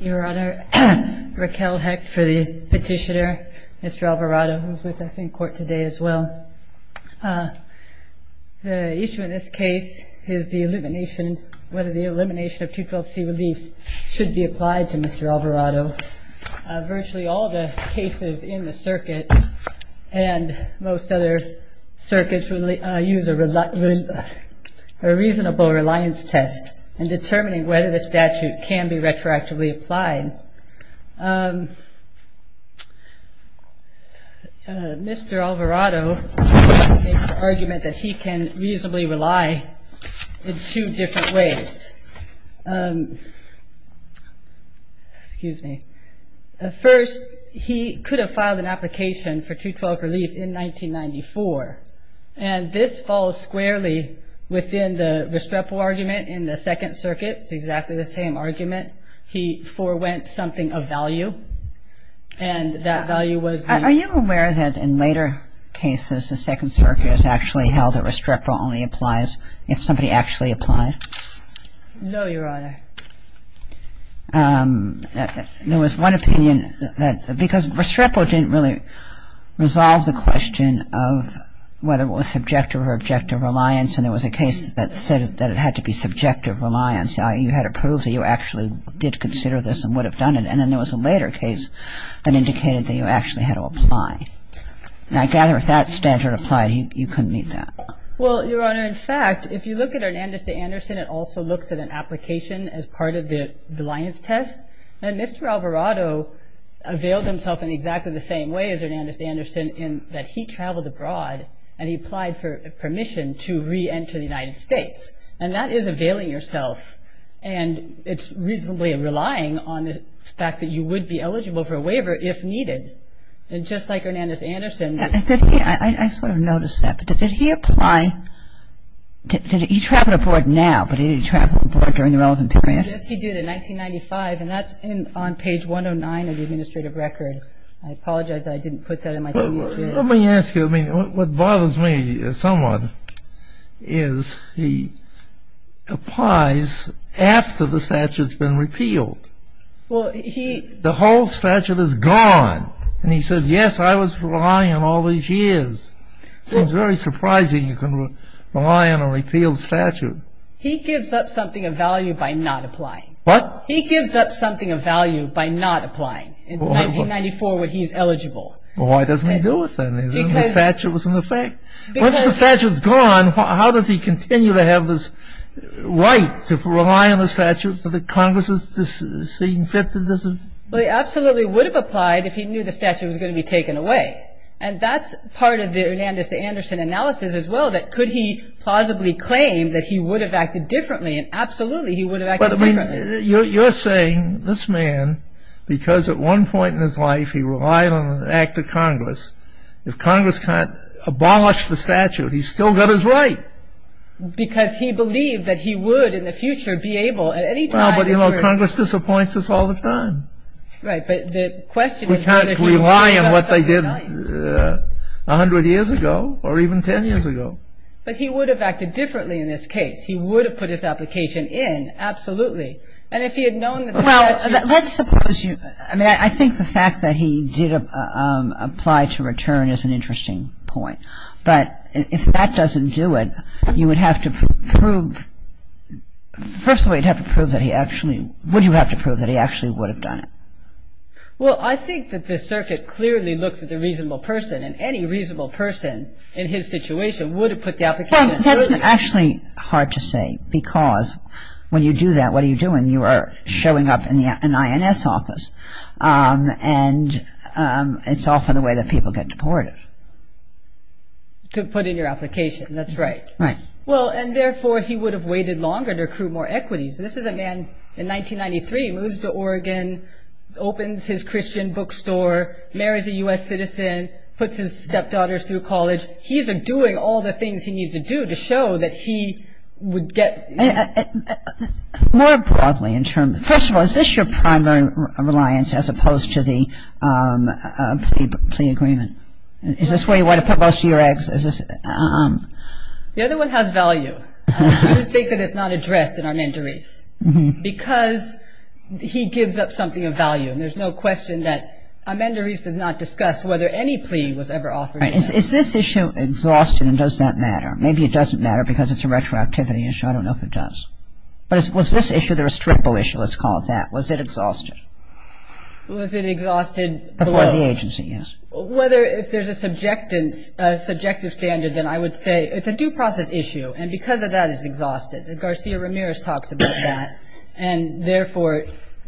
Your Honor, Raquel Hecht for the petitioner, Mr. Alvarado, who is with us in court today as well. The issue in this case is the elimination, whether the elimination of 212C relief should be applied to Mr. Alvarado. Virtually all the cases in the circuit and most other circuits use a reasonable reliance test in determining whether the statute can be retroactively applied. Mr. Alvarado makes the argument that he can reasonably rely in two different ways. First, he could have filed an application for 212 relief in 1994. And this falls squarely within the Restrepo argument in the Second Circuit. It's exactly the same argument. He forewent something of value. And that value was the... No, Your Honor. There was one opinion that, because Restrepo didn't really resolve the question of whether it was subjective or objective reliance. And there was a case that said that it had to be subjective reliance. You had to prove that you actually did consider this and would have done it. And then there was a later case that indicated that you actually had to apply. And I gather if that statute applied, you couldn't meet that. Well, Your Honor, in fact, if you look at Hernandez to Anderson, it also looks at an application as part of the reliance test. And Mr. Alvarado availed himself in exactly the same way as Hernandez to Anderson in that he traveled abroad and he applied for permission to reenter the United States. And that is availing yourself. And it's reasonably relying on the fact that you would be eligible for a waiver if needed. And just like Hernandez to Anderson... I sort of noticed that. But did he apply? Did he travel abroad now, but did he travel abroad during the relevant period? Yes, he did in 1995, and that's on page 109 of the administrative record. I apologize I didn't put that in my commute. Let me ask you. I mean, what bothers me somewhat is he applies after the statute's been repealed. Well, he... The whole statute is gone. And he says, yes, I was relying on all these years. It's very surprising you can rely on a repealed statute. He gives up something of value by not applying. What? He gives up something of value by not applying in 1994 when he's eligible. Well, why doesn't he do it then? The statute was in effect. Once the statute's gone, how does he continue to have this right to rely on the statute for the Congress's seeing fit to... Well, he absolutely would have applied if he knew the statute was going to be taken away. And that's part of the Hernandez to Anderson analysis as well, that could he plausibly claim that he would have acted differently, and absolutely he would have acted differently. But, I mean, you're saying this man, because at one point in his life he relied on an act of Congress, if Congress abolished the statute, he still got his right. Because he believed that he would in the future be able at any time... Well, but, you know, Congress disappoints us all the time. Right. But the question is... We can't rely on what they did 100 years ago or even 10 years ago. But he would have acted differently in this case. He would have put his application in, absolutely. And if he had known the statute... Well, let's suppose you... I mean, I think the fact that he did apply to return is an interesting point. But if that doesn't do it, you would have to prove... First of all, you'd have to prove that he actually... Would you have to prove that he actually would have done it? Well, I think that the circuit clearly looks at the reasonable person, and any reasonable person in his situation would have put the application in. Well, that's actually hard to say, because when you do that, what are you doing? You are showing up in the INS office. And it's often the way that people get deported. To put in your application. That's right. Right. Well, and therefore, he would have waited longer to accrue more equities. This is a man in 1993, moves to Oregon, opens his Christian bookstore, marries a U.S. citizen, puts his stepdaughters through college. He's doing all the things he needs to do to show that he would get... More broadly, in terms of... First of all, is this your primary reliance as opposed to the plea agreement? Is this where you want to put most of your eggs? The other one has value. I do think that it's not addressed in Amendarese. Because he gives up something of value, and there's no question that Amendarese did not discuss whether any plea was ever offered. Right. Is this issue exhausted, and does that matter? Maybe it doesn't matter because it's a retroactivity issue. I don't know if it does. But was this issue the restrictable issue, let's call it that? Was it exhausted? Was it exhausted below? Before the agency, yes. Whether if there's a subjective standard, then I would say it's a due process issue. And because of that, it's exhausted. Garcia Ramirez talks about that. And therefore,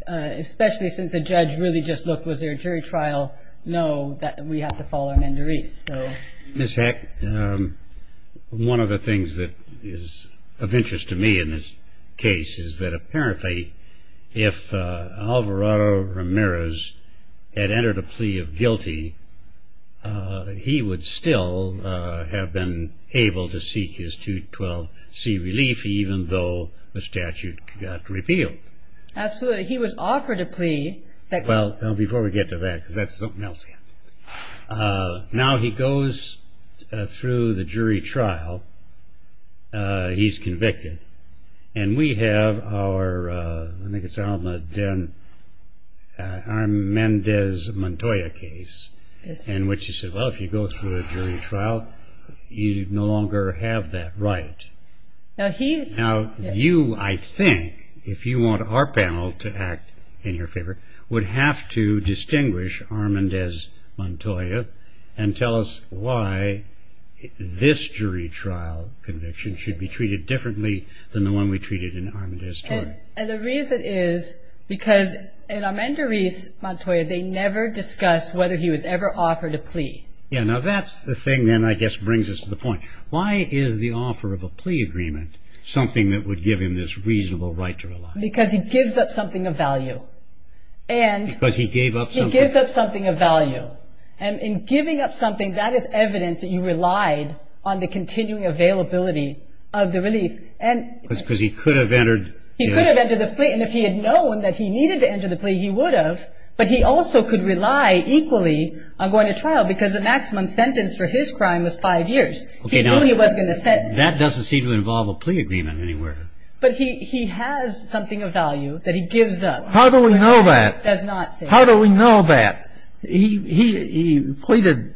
especially since the judge really just looked, was there a jury trial? No, we have to follow Amendarese. Ms. Heck, one of the things that is of interest to me in this case is that apparently if Alvarado Ramirez had entered a plea of guilty, he would still have been able to seek his 212C relief, even though the statute got repealed. Absolutely. He was offered a plea. Well, before we get to that, because that's something else. Now he goes through the jury trial. He's convicted. And we have our, I think it's Armandez Montoya case in which he said, well, if you go through a jury trial, you no longer have that right. Now you, I think, if you want our panel to act in your favor, would have to distinguish Armandez Montoya and tell us why this jury trial conviction should be treated differently than the one we treated in Armandez Tort. And the reason is because in Armandarese Montoya, they never discussed whether he was ever offered a plea. Yeah, now that's the thing then I guess brings us to the point. Why is the offer of a plea agreement something that would give him this reasonable right to rely? Because he gives up something of value. Because he gave up something. He gives up something of value. And in giving up something, that is evidence that you relied on the continuing availability of the relief. Because he could have entered. He could have entered the plea. And if he had known that he needed to enter the plea, he would have. But he also could rely equally on going to trial because the maximum sentence for his crime was five years. He knew he wasn't going to sentence. That doesn't seem to involve a plea agreement anywhere. But he has something of value that he gives up. How do we know that? How do we know that? He pleaded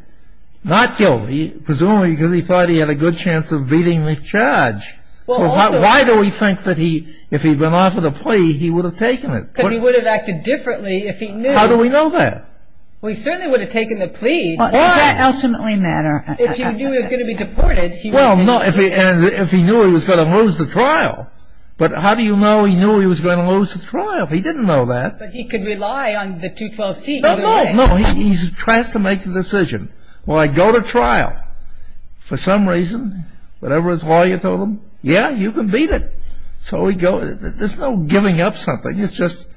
not guilty presumably because he thought he had a good chance of beating this charge. So why do we think that if he'd been offered a plea, he would have taken it? Because he would have acted differently if he knew. How do we know that? Well, he certainly would have taken the plea. Does that ultimately matter? If he knew he was going to be deported, he would have taken the plea. And if he knew he was going to lose the trial. But how do you know he knew he was going to lose the trial? He didn't know that. But he could rely on the 212C. No, no, no. He tries to make the decision. Well, I go to trial. For some reason, whatever his lawyer told him, yeah, you can beat it. So there's no giving up something. It's just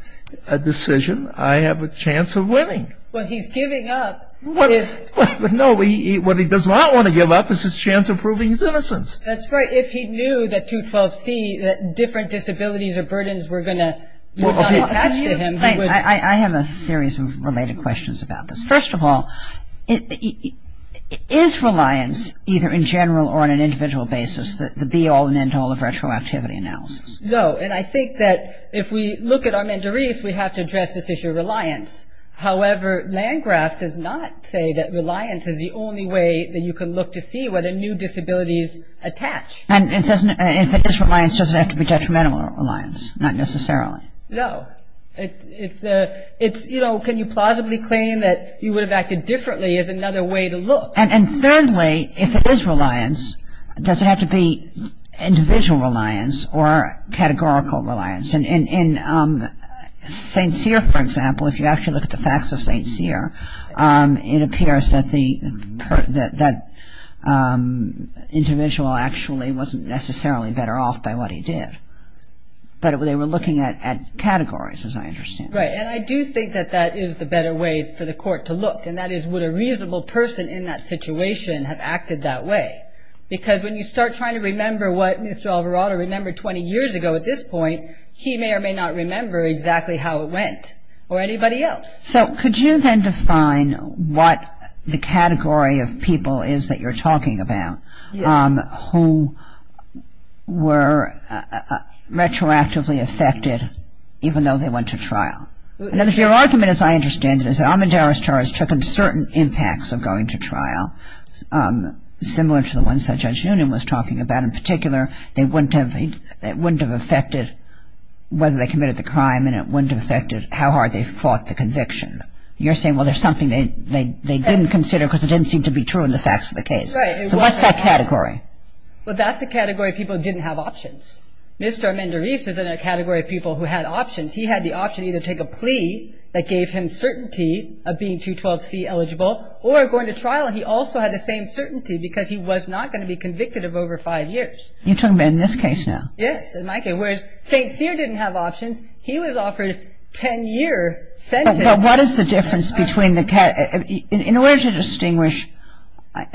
a decision. I have a chance of winning. Well, he's giving up. No, what he does not want to give up is his chance of proving his innocence. That's right. If he knew that 212C, that different disabilities or burdens were going to attach to him. I have a series of related questions about this. First of all, is reliance either in general or on an individual basis the be-all and end-all of retroactivity analysis? No. And I think that if we look at Armendariz, we have to address this issue of reliance. However, Landgraf does not say that reliance is the only way that you can look to see whether new disabilities attach. And if it is reliance, does it have to be detrimental reliance? Not necessarily. No. It's, you know, can you plausibly claim that you would have acted differently is another way to look. And thirdly, if it is reliance, does it have to be individual reliance or categorical reliance? And St. Cyr, for example, if you actually look at the facts of St. Cyr, it appears that the individual actually wasn't necessarily better off by what he did. But they were looking at categories, as I understand. Right. And I do think that that is the better way for the court to look, and that is would a reasonable person in that situation have acted that way? Because when you start trying to remember what Mr. Alvarado remembered 20 years ago at this point, he may or may not remember exactly how it went, or anybody else. So could you then define what the category of people is that you're talking about who were retroactively affected even though they went to trial? Your argument, as I understand it, is that Armendariz charges took on certain impacts of going to trial, similar to the ones that Judge Noonan was talking about. You're saying, well, there's something they didn't consider because it didn't seem to be true in the facts of the case. Right. So what's that category? Well, that's the category of people who didn't have options. Mr. Armendariz is in a category of people who had options. He had the option to either take a plea that gave him certainty of being 212C eligible or going to trial, and he also had the same certainty because he was not going to be convicted of over five years. You're talking about in this case now? Yes, in my case. Whereas St. Cyr didn't have options. He was offered a 10-year sentence. But what is the difference between the categories? In order to distinguish,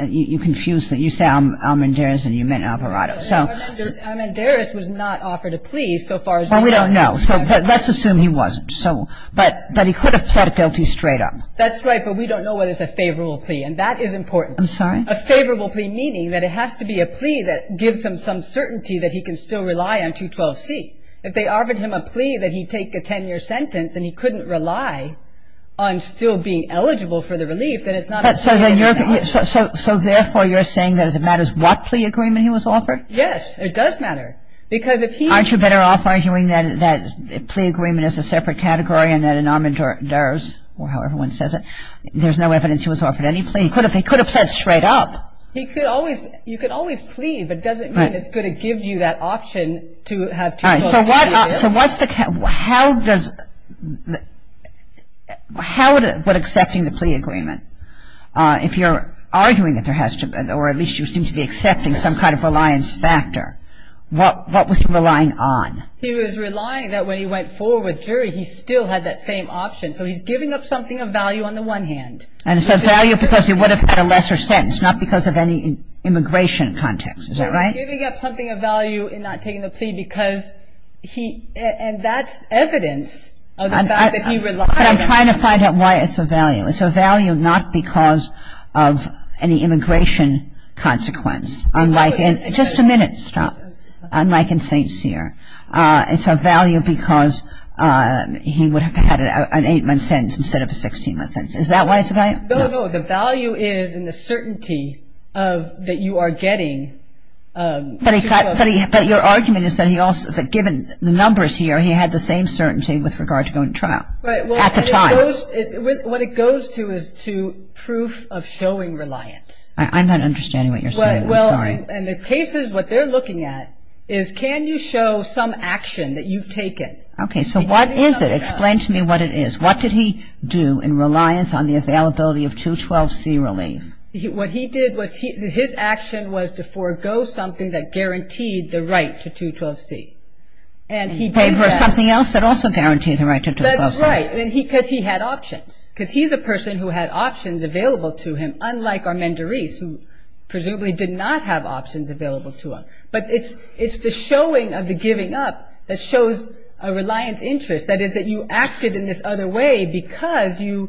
you say Armendariz and you meant Alvarado. Armendariz was not offered a plea so far as we know. Well, we don't know. So let's assume he wasn't. But he could have pled guilty straight up. That's right, but we don't know whether it's a favorable plea, and that is important. I'm sorry? A favorable plea meaning that it has to be a plea that gives him some certainty that he can still rely on 212C. If they offered him a plea that he'd take a 10-year sentence and he couldn't rely on still being eligible for the relief, then it's not a plea. So therefore you're saying that it matters what plea agreement he was offered? Yes, it does matter. Aren't you better off arguing that a plea agreement is a separate category and that in Armendariz, or however one says it, there's no evidence he was offered any plea? He could have pled straight up. You could always plea, but it doesn't mean it's going to give you that option to have 212C. So what's the – how does – how would accepting the plea agreement – if you're arguing that there has to be, or at least you seem to be accepting some kind of reliance factor, what was he relying on? He was relying that when he went forward with jury, he still had that same option. So he's giving up something of value on the one hand. And it's of value because he would have had a lesser sentence, not because of any immigration context, is that right? He's giving up something of value in not taking the plea because he – and that's evidence of the fact that he relied on it. But I'm trying to find out why it's of value. It's of value not because of any immigration consequence, unlike in – just a minute, stop. Unlike in St. Cyr. It's of value because he would have had an 8-month sentence instead of a 16-month sentence. Is that why it's of value? No, no. The value is in the certainty that you are getting. But your argument is that he also – given the numbers here, he had the same certainty with regard to going to trial at the time. What it goes to is to proof of showing reliance. I'm not understanding what you're saying. I'm sorry. Well, in the cases, what they're looking at is can you show some action that you've taken? Okay. So what is it? Explain to me what it is. What did he do in reliance on the availability of 212C relief? What he did was – his action was to forego something that guaranteed the right to 212C. And he did that. And he paid for something else that also guaranteed the right to 212C. That's right. Because he had options. Because he's a person who had options available to him, unlike Armendariz who presumably did not have options available to him. But it's the showing of the giving up that shows a reliance interest. That is that you acted in this other way because you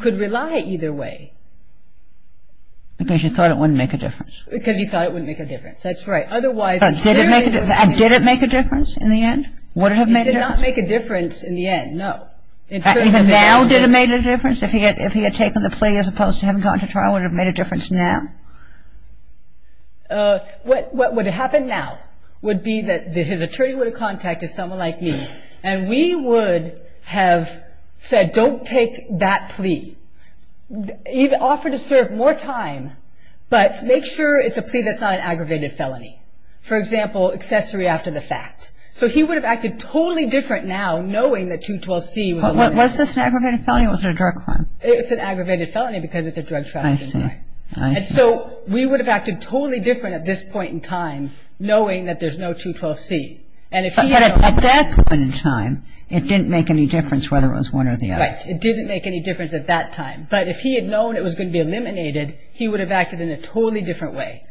could rely either way. Because you thought it wouldn't make a difference. Because you thought it wouldn't make a difference. That's right. Otherwise – Did it make a difference in the end? Would it have made a difference? It did not make a difference in the end, no. Even now, did it make a difference? If he had taken the plea as opposed to having gone to trial, would it have made a difference now? What would happen now would be that his attorney would have contacted someone like me and we would have said, don't take that plea. Offer to serve more time, but make sure it's a plea that's not an aggravated felony. For example, accessory after the fact. So he would have acted totally different now, knowing that 212C was – Was this an aggravated felony or was it a drug crime? It's an aggravated felony because it's a drug trafficking crime. I see. I see. And so we would have acted totally different at this point in time, knowing that there's no 212C. At that point in time, it didn't make any difference whether it was one or the other. Right. It didn't make any difference at that time. But if he had known it was going to be eliminated, he would have acted in a totally different way.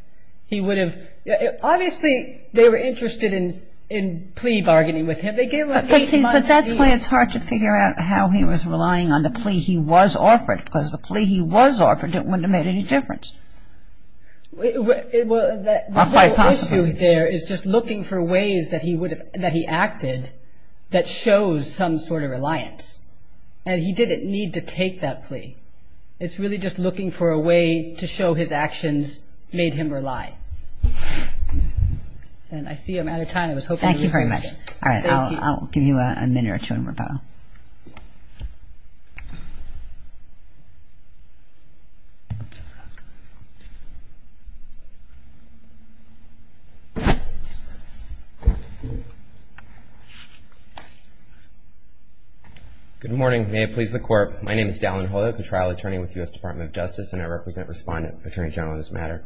He would have – obviously, they were interested in plea bargaining with him. They gave him eight months to – But that's why it's hard to figure out how he was relying on the plea he was offered because the plea he was offered wouldn't have made any difference. Well, that – Or quite possibly. The issue there is just looking for ways that he would have – that he acted that shows some sort of reliance. And he didn't need to take that plea. It's really just looking for a way to show his actions made him rely. And I see I'm out of time. I was hoping to resume. Thank you very much. All right. Thank you. I'll give you a minute or two in rebuttal. Good morning. May it please the Court. My name is Dallin Hoya, a trial attorney with the U.S. Department of Justice, and I represent Respondent Attorney General on this matter.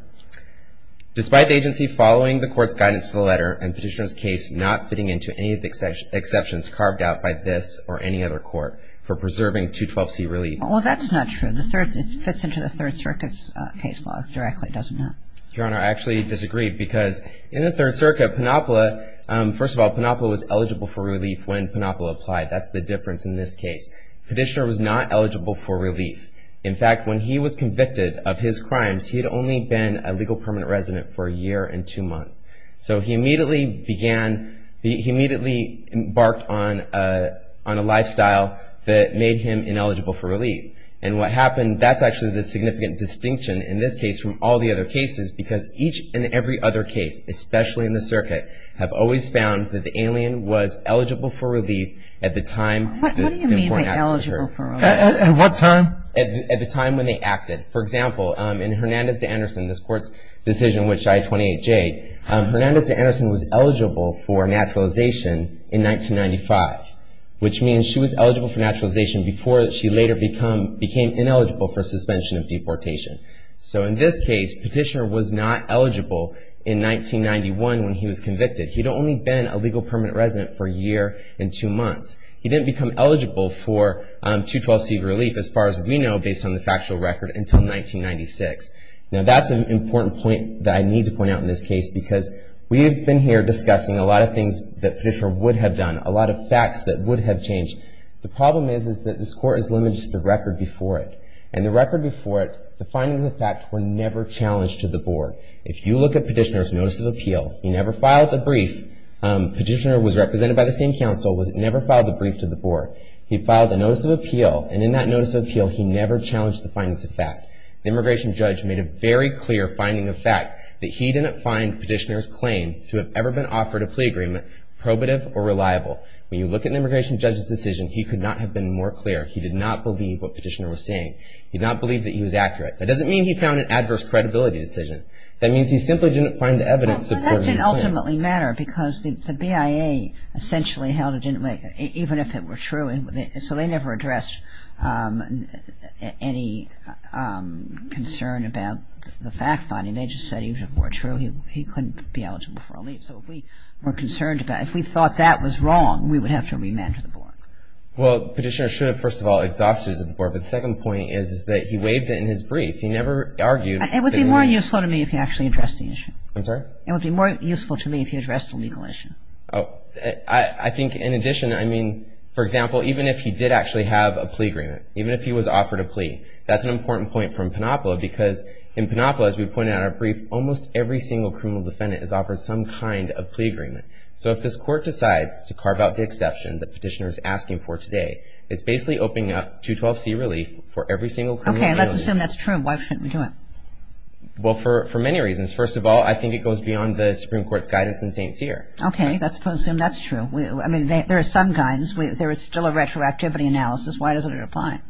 Despite the agency following the Court's guidance to the letter and Petitioner's case not fitting into any of the exceptions carved out by this or any other court for preserving 212C relief. Well, that's not true. It fits into the Third Circuit's case law directly, doesn't it? Your Honor, I actually disagreed because in the Third Circuit, Panopla – first of all, Panopla was eligible for relief when Panopla applied. That's the difference in this case. Petitioner was not eligible for relief. In fact, when he was convicted of his crimes, he had only been a legal permanent resident for a year and two months. So he immediately began – he immediately embarked on a lifestyle that made him ineligible for relief. And what happened – that's actually the significant distinction in this case from all the other cases because each and every other case, especially in the Circuit, have always found that the alien was eligible for relief at the time the important act was heard. What do you mean by eligible for relief? At what time? At the time when they acted. For example, in Hernandez v. Anderson, this Court's decision, in which I-28J, Hernandez v. Anderson was eligible for naturalization in 1995, which means she was eligible for naturalization before she later became ineligible for suspension of deportation. So in this case, Petitioner was not eligible in 1991 when he was convicted. He'd only been a legal permanent resident for a year and two months. He didn't become eligible for 212C relief, as far as we know, based on the factual record, until 1996. Now that's an important point that I need to point out in this case because we have been here discussing a lot of things that Petitioner would have done, a lot of facts that would have changed. The problem is that this Court is limited to the record before it. And the record before it, the findings of fact were never challenged to the Board. If you look at Petitioner's Notice of Appeal, he never filed the brief. Petitioner was represented by the same counsel, but he never filed the brief to the Board. He filed a Notice of Appeal, and in that Notice of Appeal, he never challenged the findings of fact. The immigration judge made a very clear finding of fact, that he didn't find Petitioner's claim to have ever been offered a plea agreement probative or reliable. When you look at an immigration judge's decision, he could not have been more clear. He did not believe what Petitioner was saying. He did not believe that he was accurate. That doesn't mean he found an adverse credibility decision. That means he simply didn't find evidence supporting his claim. Well, that can ultimately matter because the BIA essentially held it didn't matter, even if it were true. So they never addressed any concern about the fact finding. They just said even if it were true, he couldn't be eligible for a leave. So if we were concerned about it, if we thought that was wrong, we would have to remand to the Board. Well, Petitioner should have, first of all, exhausted it to the Board. But the second point is that he waived it in his brief. He never argued. It would be more useful to me if he actually addressed the issue. I'm sorry? It would be more useful to me if he addressed the legal issue. I think in addition, I mean, for example, even if he did actually have a plea agreement, even if he was offered a plea, that's an important point from Panopola because in Panopola, as we pointed out in our brief, almost every single criminal defendant is offered some kind of plea agreement. So if this Court decides to carve out the exception that Petitioner is asking for today, it's basically opening up 212C relief for every single criminal felony. Okay. Let's assume that's true. Why shouldn't we do it? Well, for many reasons. First of all, I think it goes beyond the Supreme Court's guidance in St. Cyr. Okay. Let's assume that's true. I mean, there are some guidance. There is still a retroactivity analysis. Why doesn't it apply?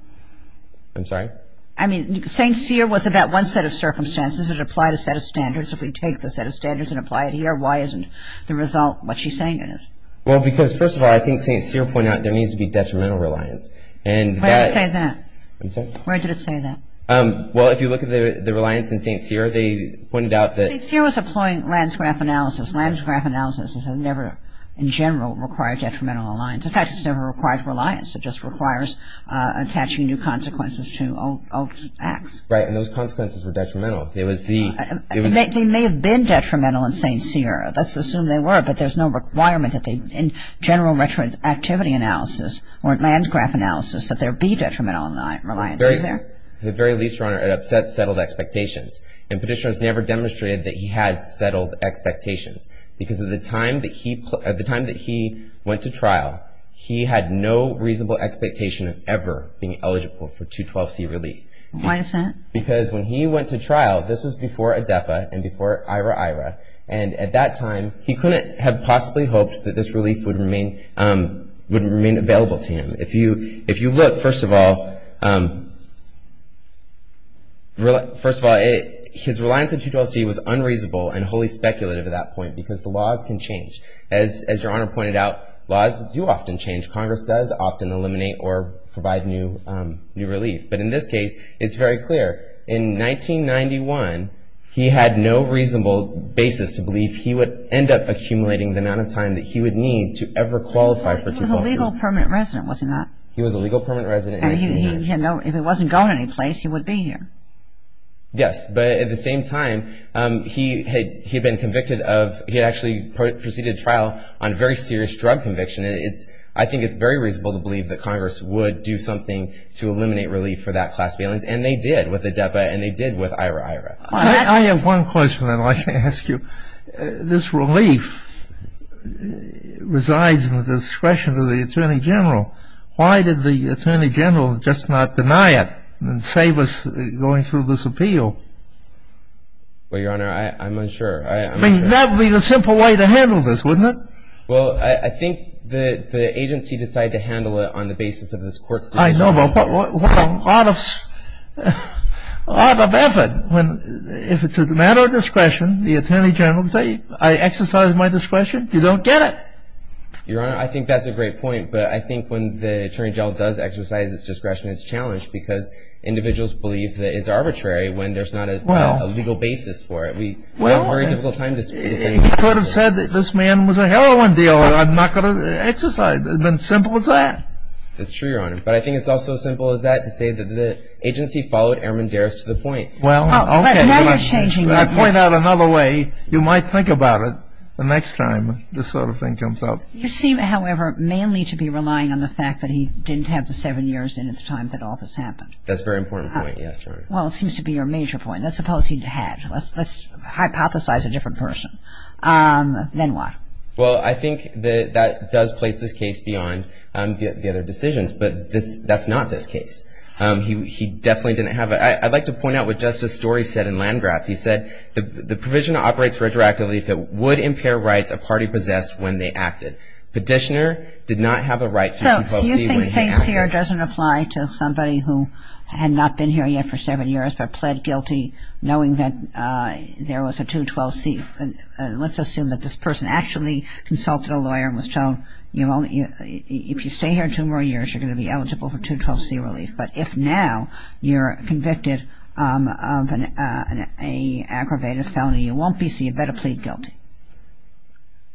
I'm sorry? I mean, St. Cyr was about one set of circumstances. It applied a set of standards. If we take the set of standards and apply it here, why isn't the result what she's saying it is? Well, because, first of all, I think St. Cyr pointed out there needs to be detrimental reliance. Where did it say that? I'm sorry? Where did it say that? Well, if you look at the reliance in St. Cyr, they pointed out that St. Cyr was employing landscrap analysis. Landscrap analysis has never, in general, required detrimental reliance. In fact, it's never required reliance. It just requires attaching new consequences to old acts. Right. And those consequences were detrimental. They may have been detrimental in St. Cyr. Let's assume they were, but there's no requirement in general retroactivity analysis or landscrap analysis that there be detrimental reliance. Is there? At the very least, Your Honor, it upsets settled expectations. And Petitioners never demonstrated that he had settled expectations because at the time that he went to trial, he had no reasonable expectation of ever being eligible for 212C relief. Why is that? Because when he went to trial, this was before ADEPA and before IRA-IRA, and at that time he couldn't have possibly hoped that this relief would remain available to him. If you look, first of all, his reliance on 212C was unreasonable and wholly speculative at that point because the laws can change. As Your Honor pointed out, laws do often change. Congress does often eliminate or provide new relief. But in this case, it's very clear. In 1991, he had no reasonable basis to believe he would end up accumulating the amount of time that he would need to ever qualify for 212C. He was a legal permanent resident, was he not? He was a legal permanent resident. And he, you know, if he wasn't going anyplace, he would be here. Yes, but at the same time, he had been convicted of, he had actually proceeded to trial on very serious drug conviction. I think it's very reasonable to believe that Congress would do something to eliminate relief for that class balance, and they did with ADEPA and they did with IRA-IRA. I have one question I'd like to ask you. This relief resides in the discretion of the Attorney General. Why did the Attorney General just not deny it and save us going through this appeal? Well, Your Honor, I'm unsure. I mean, that would be the simple way to handle this, wouldn't it? Well, I think the agency decided to handle it on the basis of this Court's decision. I know, but what a lot of effort when, if it's a matter of discretion, the Attorney General would say, I exercised my discretion. You don't get it. Your Honor, I think that's a great point, but I think when the Attorney General does exercise his discretion, it's challenged because individuals believe that it's arbitrary when there's not a legal basis for it. We have a very difficult time disputing. Well, he could have said that this man was a heroin dealer. I'm not going to exercise. It would have been as simple as that. That's true, Your Honor. But I think it's also as simple as that to say that the agency followed Airman Daris to the point. Well, okay. Now you're changing the point. When I point out another way, you might think about it the next time this sort of thing comes up. You seem, however, mainly to be relying on the fact that he didn't have the seven years in at the time that all this happened. That's a very important point. Yes, Your Honor. Well, it seems to be your major point. Let's suppose he had. Let's hypothesize a different person. Then what? Well, I think that that does place this case beyond the other decisions. But that's not this case. He definitely didn't have a... I'd like to point out what Justice Story said in Landgraf. He said, The provision operates retroactively if it would impair rights a party possessed when they acted. Petitioner did not have a right to 212C when he acted. So you think 6 here doesn't apply to somebody who had not been here yet for seven years but pled guilty knowing that there was a 212C. Let's assume that this person actually consulted a lawyer and was told, if you stay here two more years, you're going to be eligible for 212C relief. But if now you're convicted of an aggravated felony, you won't be, so you better plead guilty.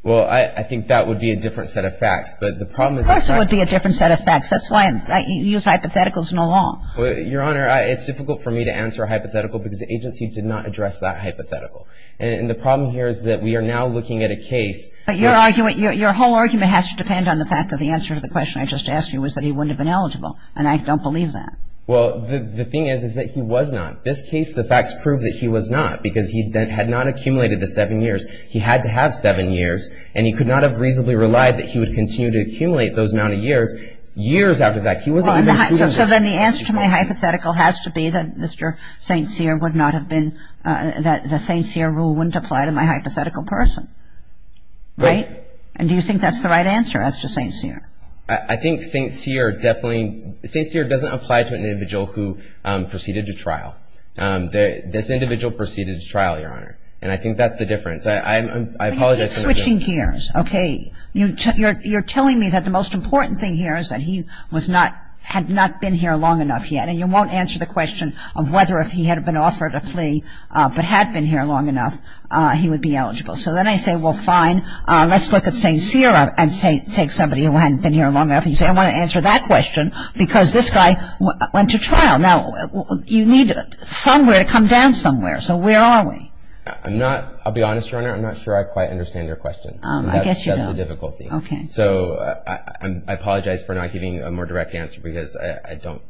Well, I think that would be a different set of facts. But the problem is... Of course it would be a different set of facts. That's why you use hypotheticals in the law. Your Honor, it's difficult for me to answer a hypothetical because the agency did not address that hypothetical. And the problem here is that we are now looking at a case... But your argument... Your whole argument has to depend on the fact that the answer to the question I just asked you was that he wouldn't have been eligible. And I don't believe that. Well, the thing is, is that he was not. This case, the facts prove that he was not because he had not accumulated the seven years. He had to have seven years, and he could not have reasonably relied that he would continue to accumulate those amount of years, years after that. He wasn't... So then the answer to my hypothetical has to be that Mr. St. Cyr would not have been... That the St. Cyr rule wouldn't apply to my hypothetical person. Right? And do you think that's the right answer as to St. Cyr? I think St. Cyr definitely... St. Cyr doesn't apply to an individual who proceeded to trial. This individual proceeded to trial, Your Honor. And I think that's the difference. I apologize. But you keep switching gears. Okay. You're telling me that the most important thing here is that he was not... had not been here long enough yet. And you won't answer the question of whether if he had been offered a plea but had been here long enough, he would be eligible. So then I say, well, fine. Let's look at St. Cyr and take somebody who hadn't been here long enough. And you say, I want to answer that question because this guy went to trial. Now, you need somewhere to come down somewhere. So where are we? I'm not... I'll be honest, Your Honor. I'm not sure I quite understand your question. I guess you don't. That's the difficulty. Okay. So I apologize for not giving you a more direct answer because I don't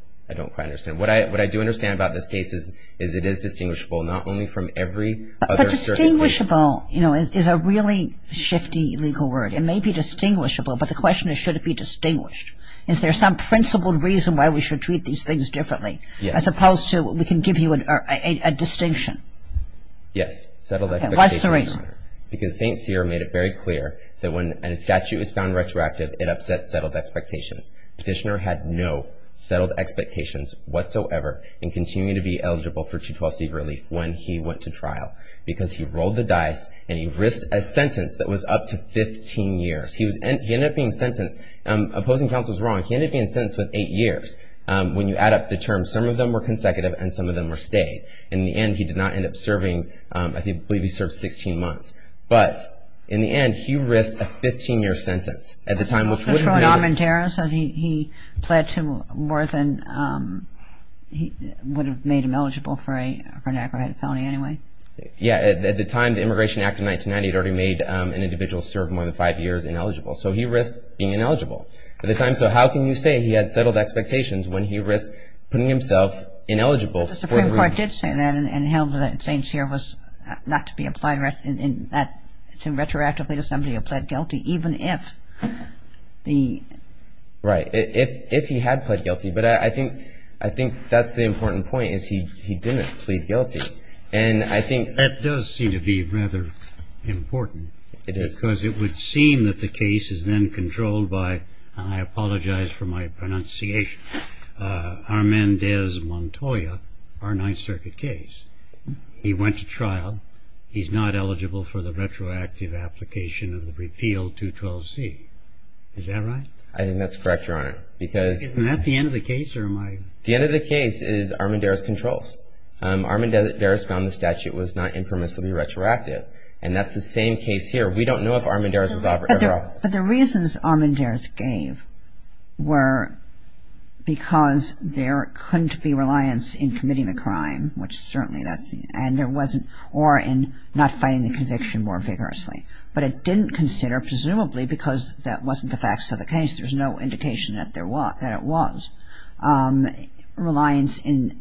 quite understand. What I do understand about this case is it is distinguishable, not only from every other... But distinguishable is a really shifty legal word. It may be distinguishable, but the question is, should it be distinguished? Is there some principled reason why we should treat these things differently? Yes. As opposed to we can give you a distinction. Yes. Settle that... What's the reason? Because St. Cyr made it very clear that when a statute is found retroactive, it upsets settled expectations. Petitioner had no settled expectations whatsoever and continued to be eligible for 212C relief when he went to trial because he rolled the dice and he risked a sentence that was up to 15 years. He ended up being sentenced... Opposing counsel is wrong. He ended up being sentenced with eight years. When you add up the terms, some of them were consecutive and some of them were stayed. In the end, he did not end up serving. I believe he served 16 months. But in the end, he risked a 15-year sentence at the time, which would have made him... Patrol in Almentara? So he pled to more than... He would have made him eligible for an aggravated felony anyway? Yes. At the time, the Immigration Act of 1990 had already made an individual served more than five years ineligible. So he risked being ineligible at the time. So how can you say he had settled expectations when he risked putting himself ineligible for... Because the Supreme Court did say that and held that St. Cyr was not to be applied retroactively to somebody who pled guilty, even if the... Right. If he had pled guilty. But I think that's the important point, is he didn't plead guilty. And I think... That does seem to be rather important. It is. Because it would seem that the case is then controlled by... Our Ninth Circuit case. He went to trial. He's not eligible for the retroactive application of the repeal 212C. Is that right? I think that's correct, Your Honor, because... Isn't that the end of the case or am I... The end of the case is Armendaris controls. Armendaris found the statute was not impermissibly retroactive. And that's the same case here. We don't know if Armendaris was ever... But the reasons Armendaris gave were because there couldn't be reliance in committing the crime, which certainly that's... And there wasn't... Or in not fighting the conviction more vigorously. But it didn't consider, presumably because that wasn't the facts of the case, there's no indication that there was, that it was, reliance in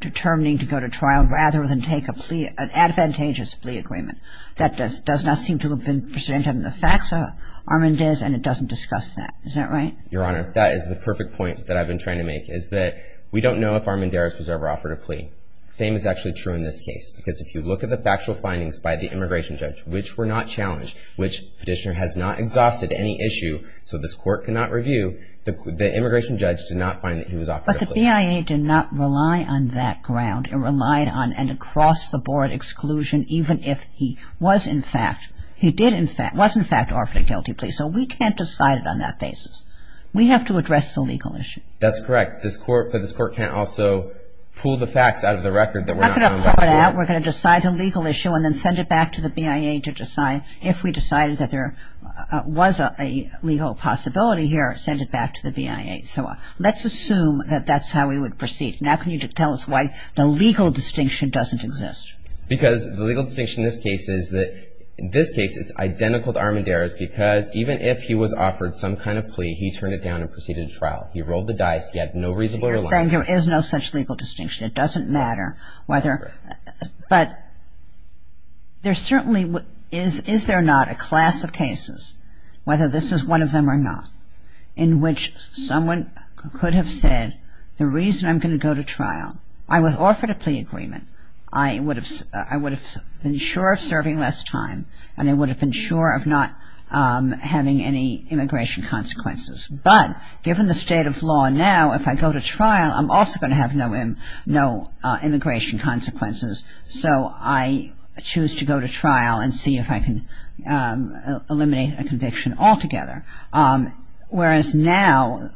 determining to go to trial rather than take a plea, an advantageous plea agreement. That does not seem to have been presented in the facts of Armendaris and it doesn't discuss that. Is that right? Your Honor, that is the perfect point that I've been trying to make, is that we don't know if Armendaris was ever offered a plea. The same is actually true in this case, because if you look at the factual findings by the immigration judge, which were not challenged, which the petitioner has not exhausted any issue, so this court cannot review, the immigration judge did not find that he was offered a plea. But the BIA did not rely on that ground. It relied on an across-the-board exclusion even if he was in fact, he did in fact, was in fact offered a guilty plea. So we can't decide it on that basis. We have to address the legal issue. That's correct. This court, but this court can't also pull the facts out of the record that we're not... I'm not going to pull it out. We're going to decide a legal issue and then send it back to the BIA to decide if we decided that there was a legal possibility here, send it back to the BIA. So let's assume that that's how we would proceed. Now can you tell us why the legal distinction doesn't exist? Because the legal distinction in this case is that, in this case, it's identical to Armendariz because even if he was offered some kind of plea, he turned it down and proceeded to trial. He rolled the dice. He had no reasonable reliance. You're saying there is no such legal distinction. It doesn't matter whether... Correct. But there's certainly, is there not a class of cases, whether this is one of them or not, in which someone could have said the reason I'm going to go to trial, I was offered a plea agreement, I would have been sure of serving less time and I would have been sure of not having any immigration consequences. But given the state of law now, if I go to trial, I'm also going to have no immigration consequences. So I choose to go to trial and see if I can eliminate a conviction altogether. Whereas now,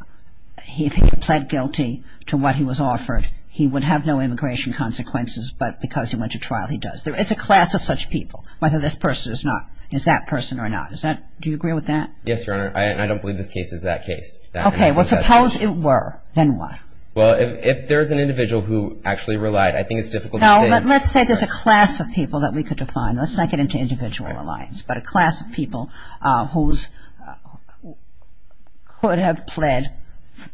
if he pled guilty to what he was offered, he would have no immigration consequences, but because he went to trial, he does. There is a class of such people, whether this person is that person or not. Do you agree with that? Yes, Your Honor. I don't believe this case is that case. Okay. Well, suppose it were. Then what? Let's say there's a class of people that we could define. Let's not get into individual reliance, but a class of people who could have pled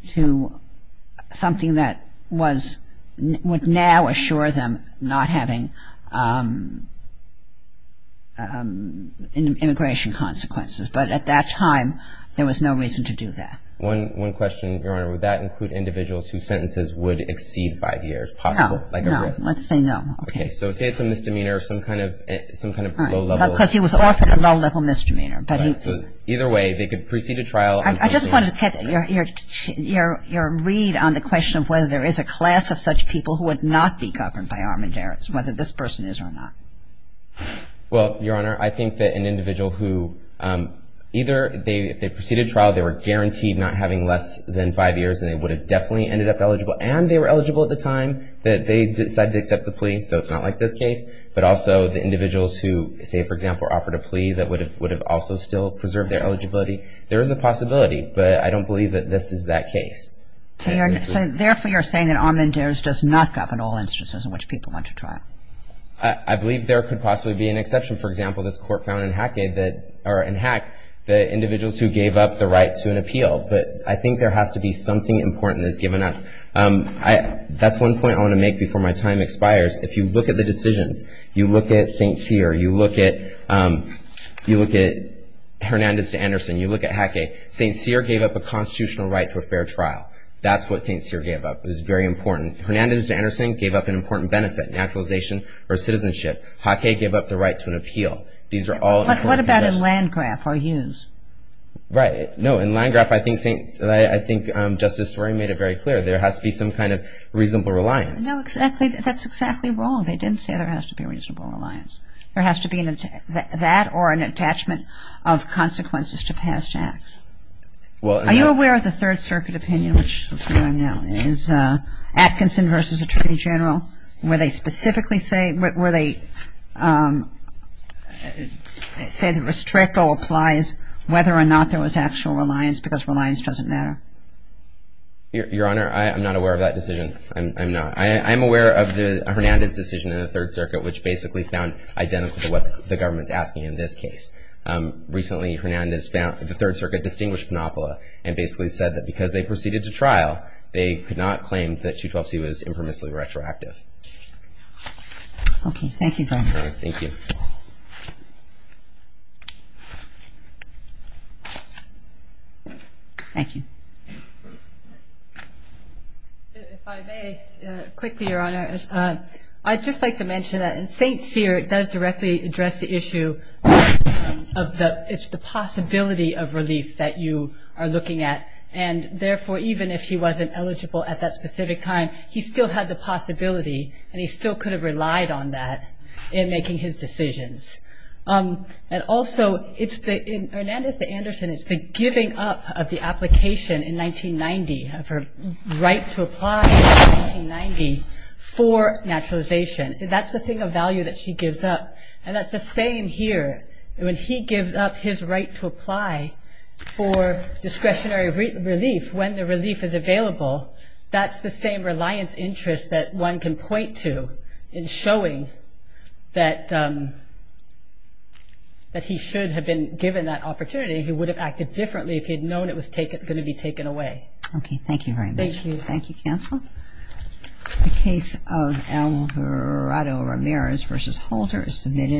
to something that would now assure them not having immigration consequences. But at that time, there was no reason to do that. One question, Your Honor. Would that include individuals whose sentences would exceed five years? No. No. Let's say no. Okay. So say it's a misdemeanor of some kind of low-level. Because he was offered a low-level misdemeanor. Either way, they could proceed to trial. I just wanted to catch your read on the question of whether there is a class of such people who would not be governed by Armendariz, whether this person is or not. Well, Your Honor, I think that an individual who either they proceeded to trial, they were guaranteed not having less than five years, and they would have definitely ended up eligible, and they were eligible at the time that they decided to accept the plea. So it's not like this case. But also the individuals who, say, for example, offered a plea that would have also still preserved their eligibility, there is a possibility. But I don't believe that this is that case. Therefore, you're saying that Armendariz does not govern all instances in which people went to trial. I believe there could possibly be an exception. For example, this court found in Hack the individuals who gave up the right to an appeal. But I think there has to be something important that's given up. That's one point I want to make before my time expires. If you look at the decisions, you look at St. Cyr, you look at Hernandez to Anderson, you look at Hacke, St. Cyr gave up a constitutional right to a fair trial. That's what St. Cyr gave up. It was very important. Hernandez to Anderson gave up an important benefit, naturalization or citizenship. Hacke gave up the right to an appeal. These are all important positions. But what about in Landgraf or Hughes? Right. No, in Landgraf, I think Justice Doreen made it very clear. There has to be some kind of reasonable reliance. No, exactly. That's exactly wrong. They didn't say there has to be a reasonable reliance. There has to be that or an attachment of consequences to past acts. Are you aware of the Third Circuit opinion, which is Atkinson v. Attorney General, where they specifically say, where they say the restrictor applies whether or not there was actual reliance because reliance doesn't matter? Your Honor, I'm not aware of that decision. I'm not. I'm aware of the Hernandez decision in the Third Circuit, which basically found identical to what the government's asking in this case. Recently, Hernandez found the Third Circuit distinguished monopoly and basically said that because they proceeded to trial, they could not claim that 212C was impermissibly retroactive. Okay. Thank you, Your Honor. Thank you. Thank you. If I may, quickly, Your Honor, I'd just like to mention that in St. Cyr, it does directly address the issue of the possibility of relief that you are looking at. Therefore, even if he wasn't eligible at that specific time, he still had the possibility and he still could have relied on that in making his decisions. Also, in Hernandez v. Anderson, it's the giving up of the application in 1990, of her right to apply in 1990 for naturalization. That's the thing of value that she gives up, and that's the same here. When he gives up his right to apply for discretionary relief, when the relief is available, that's the same reliance interest that one can point to in showing that he should have been given that opportunity. He would have acted differently if he had known it was going to be taken away. Okay. Thank you very much. Thank you. Thank you, counsel. The case of Alvarado-Ramirez v. Holter is submitted.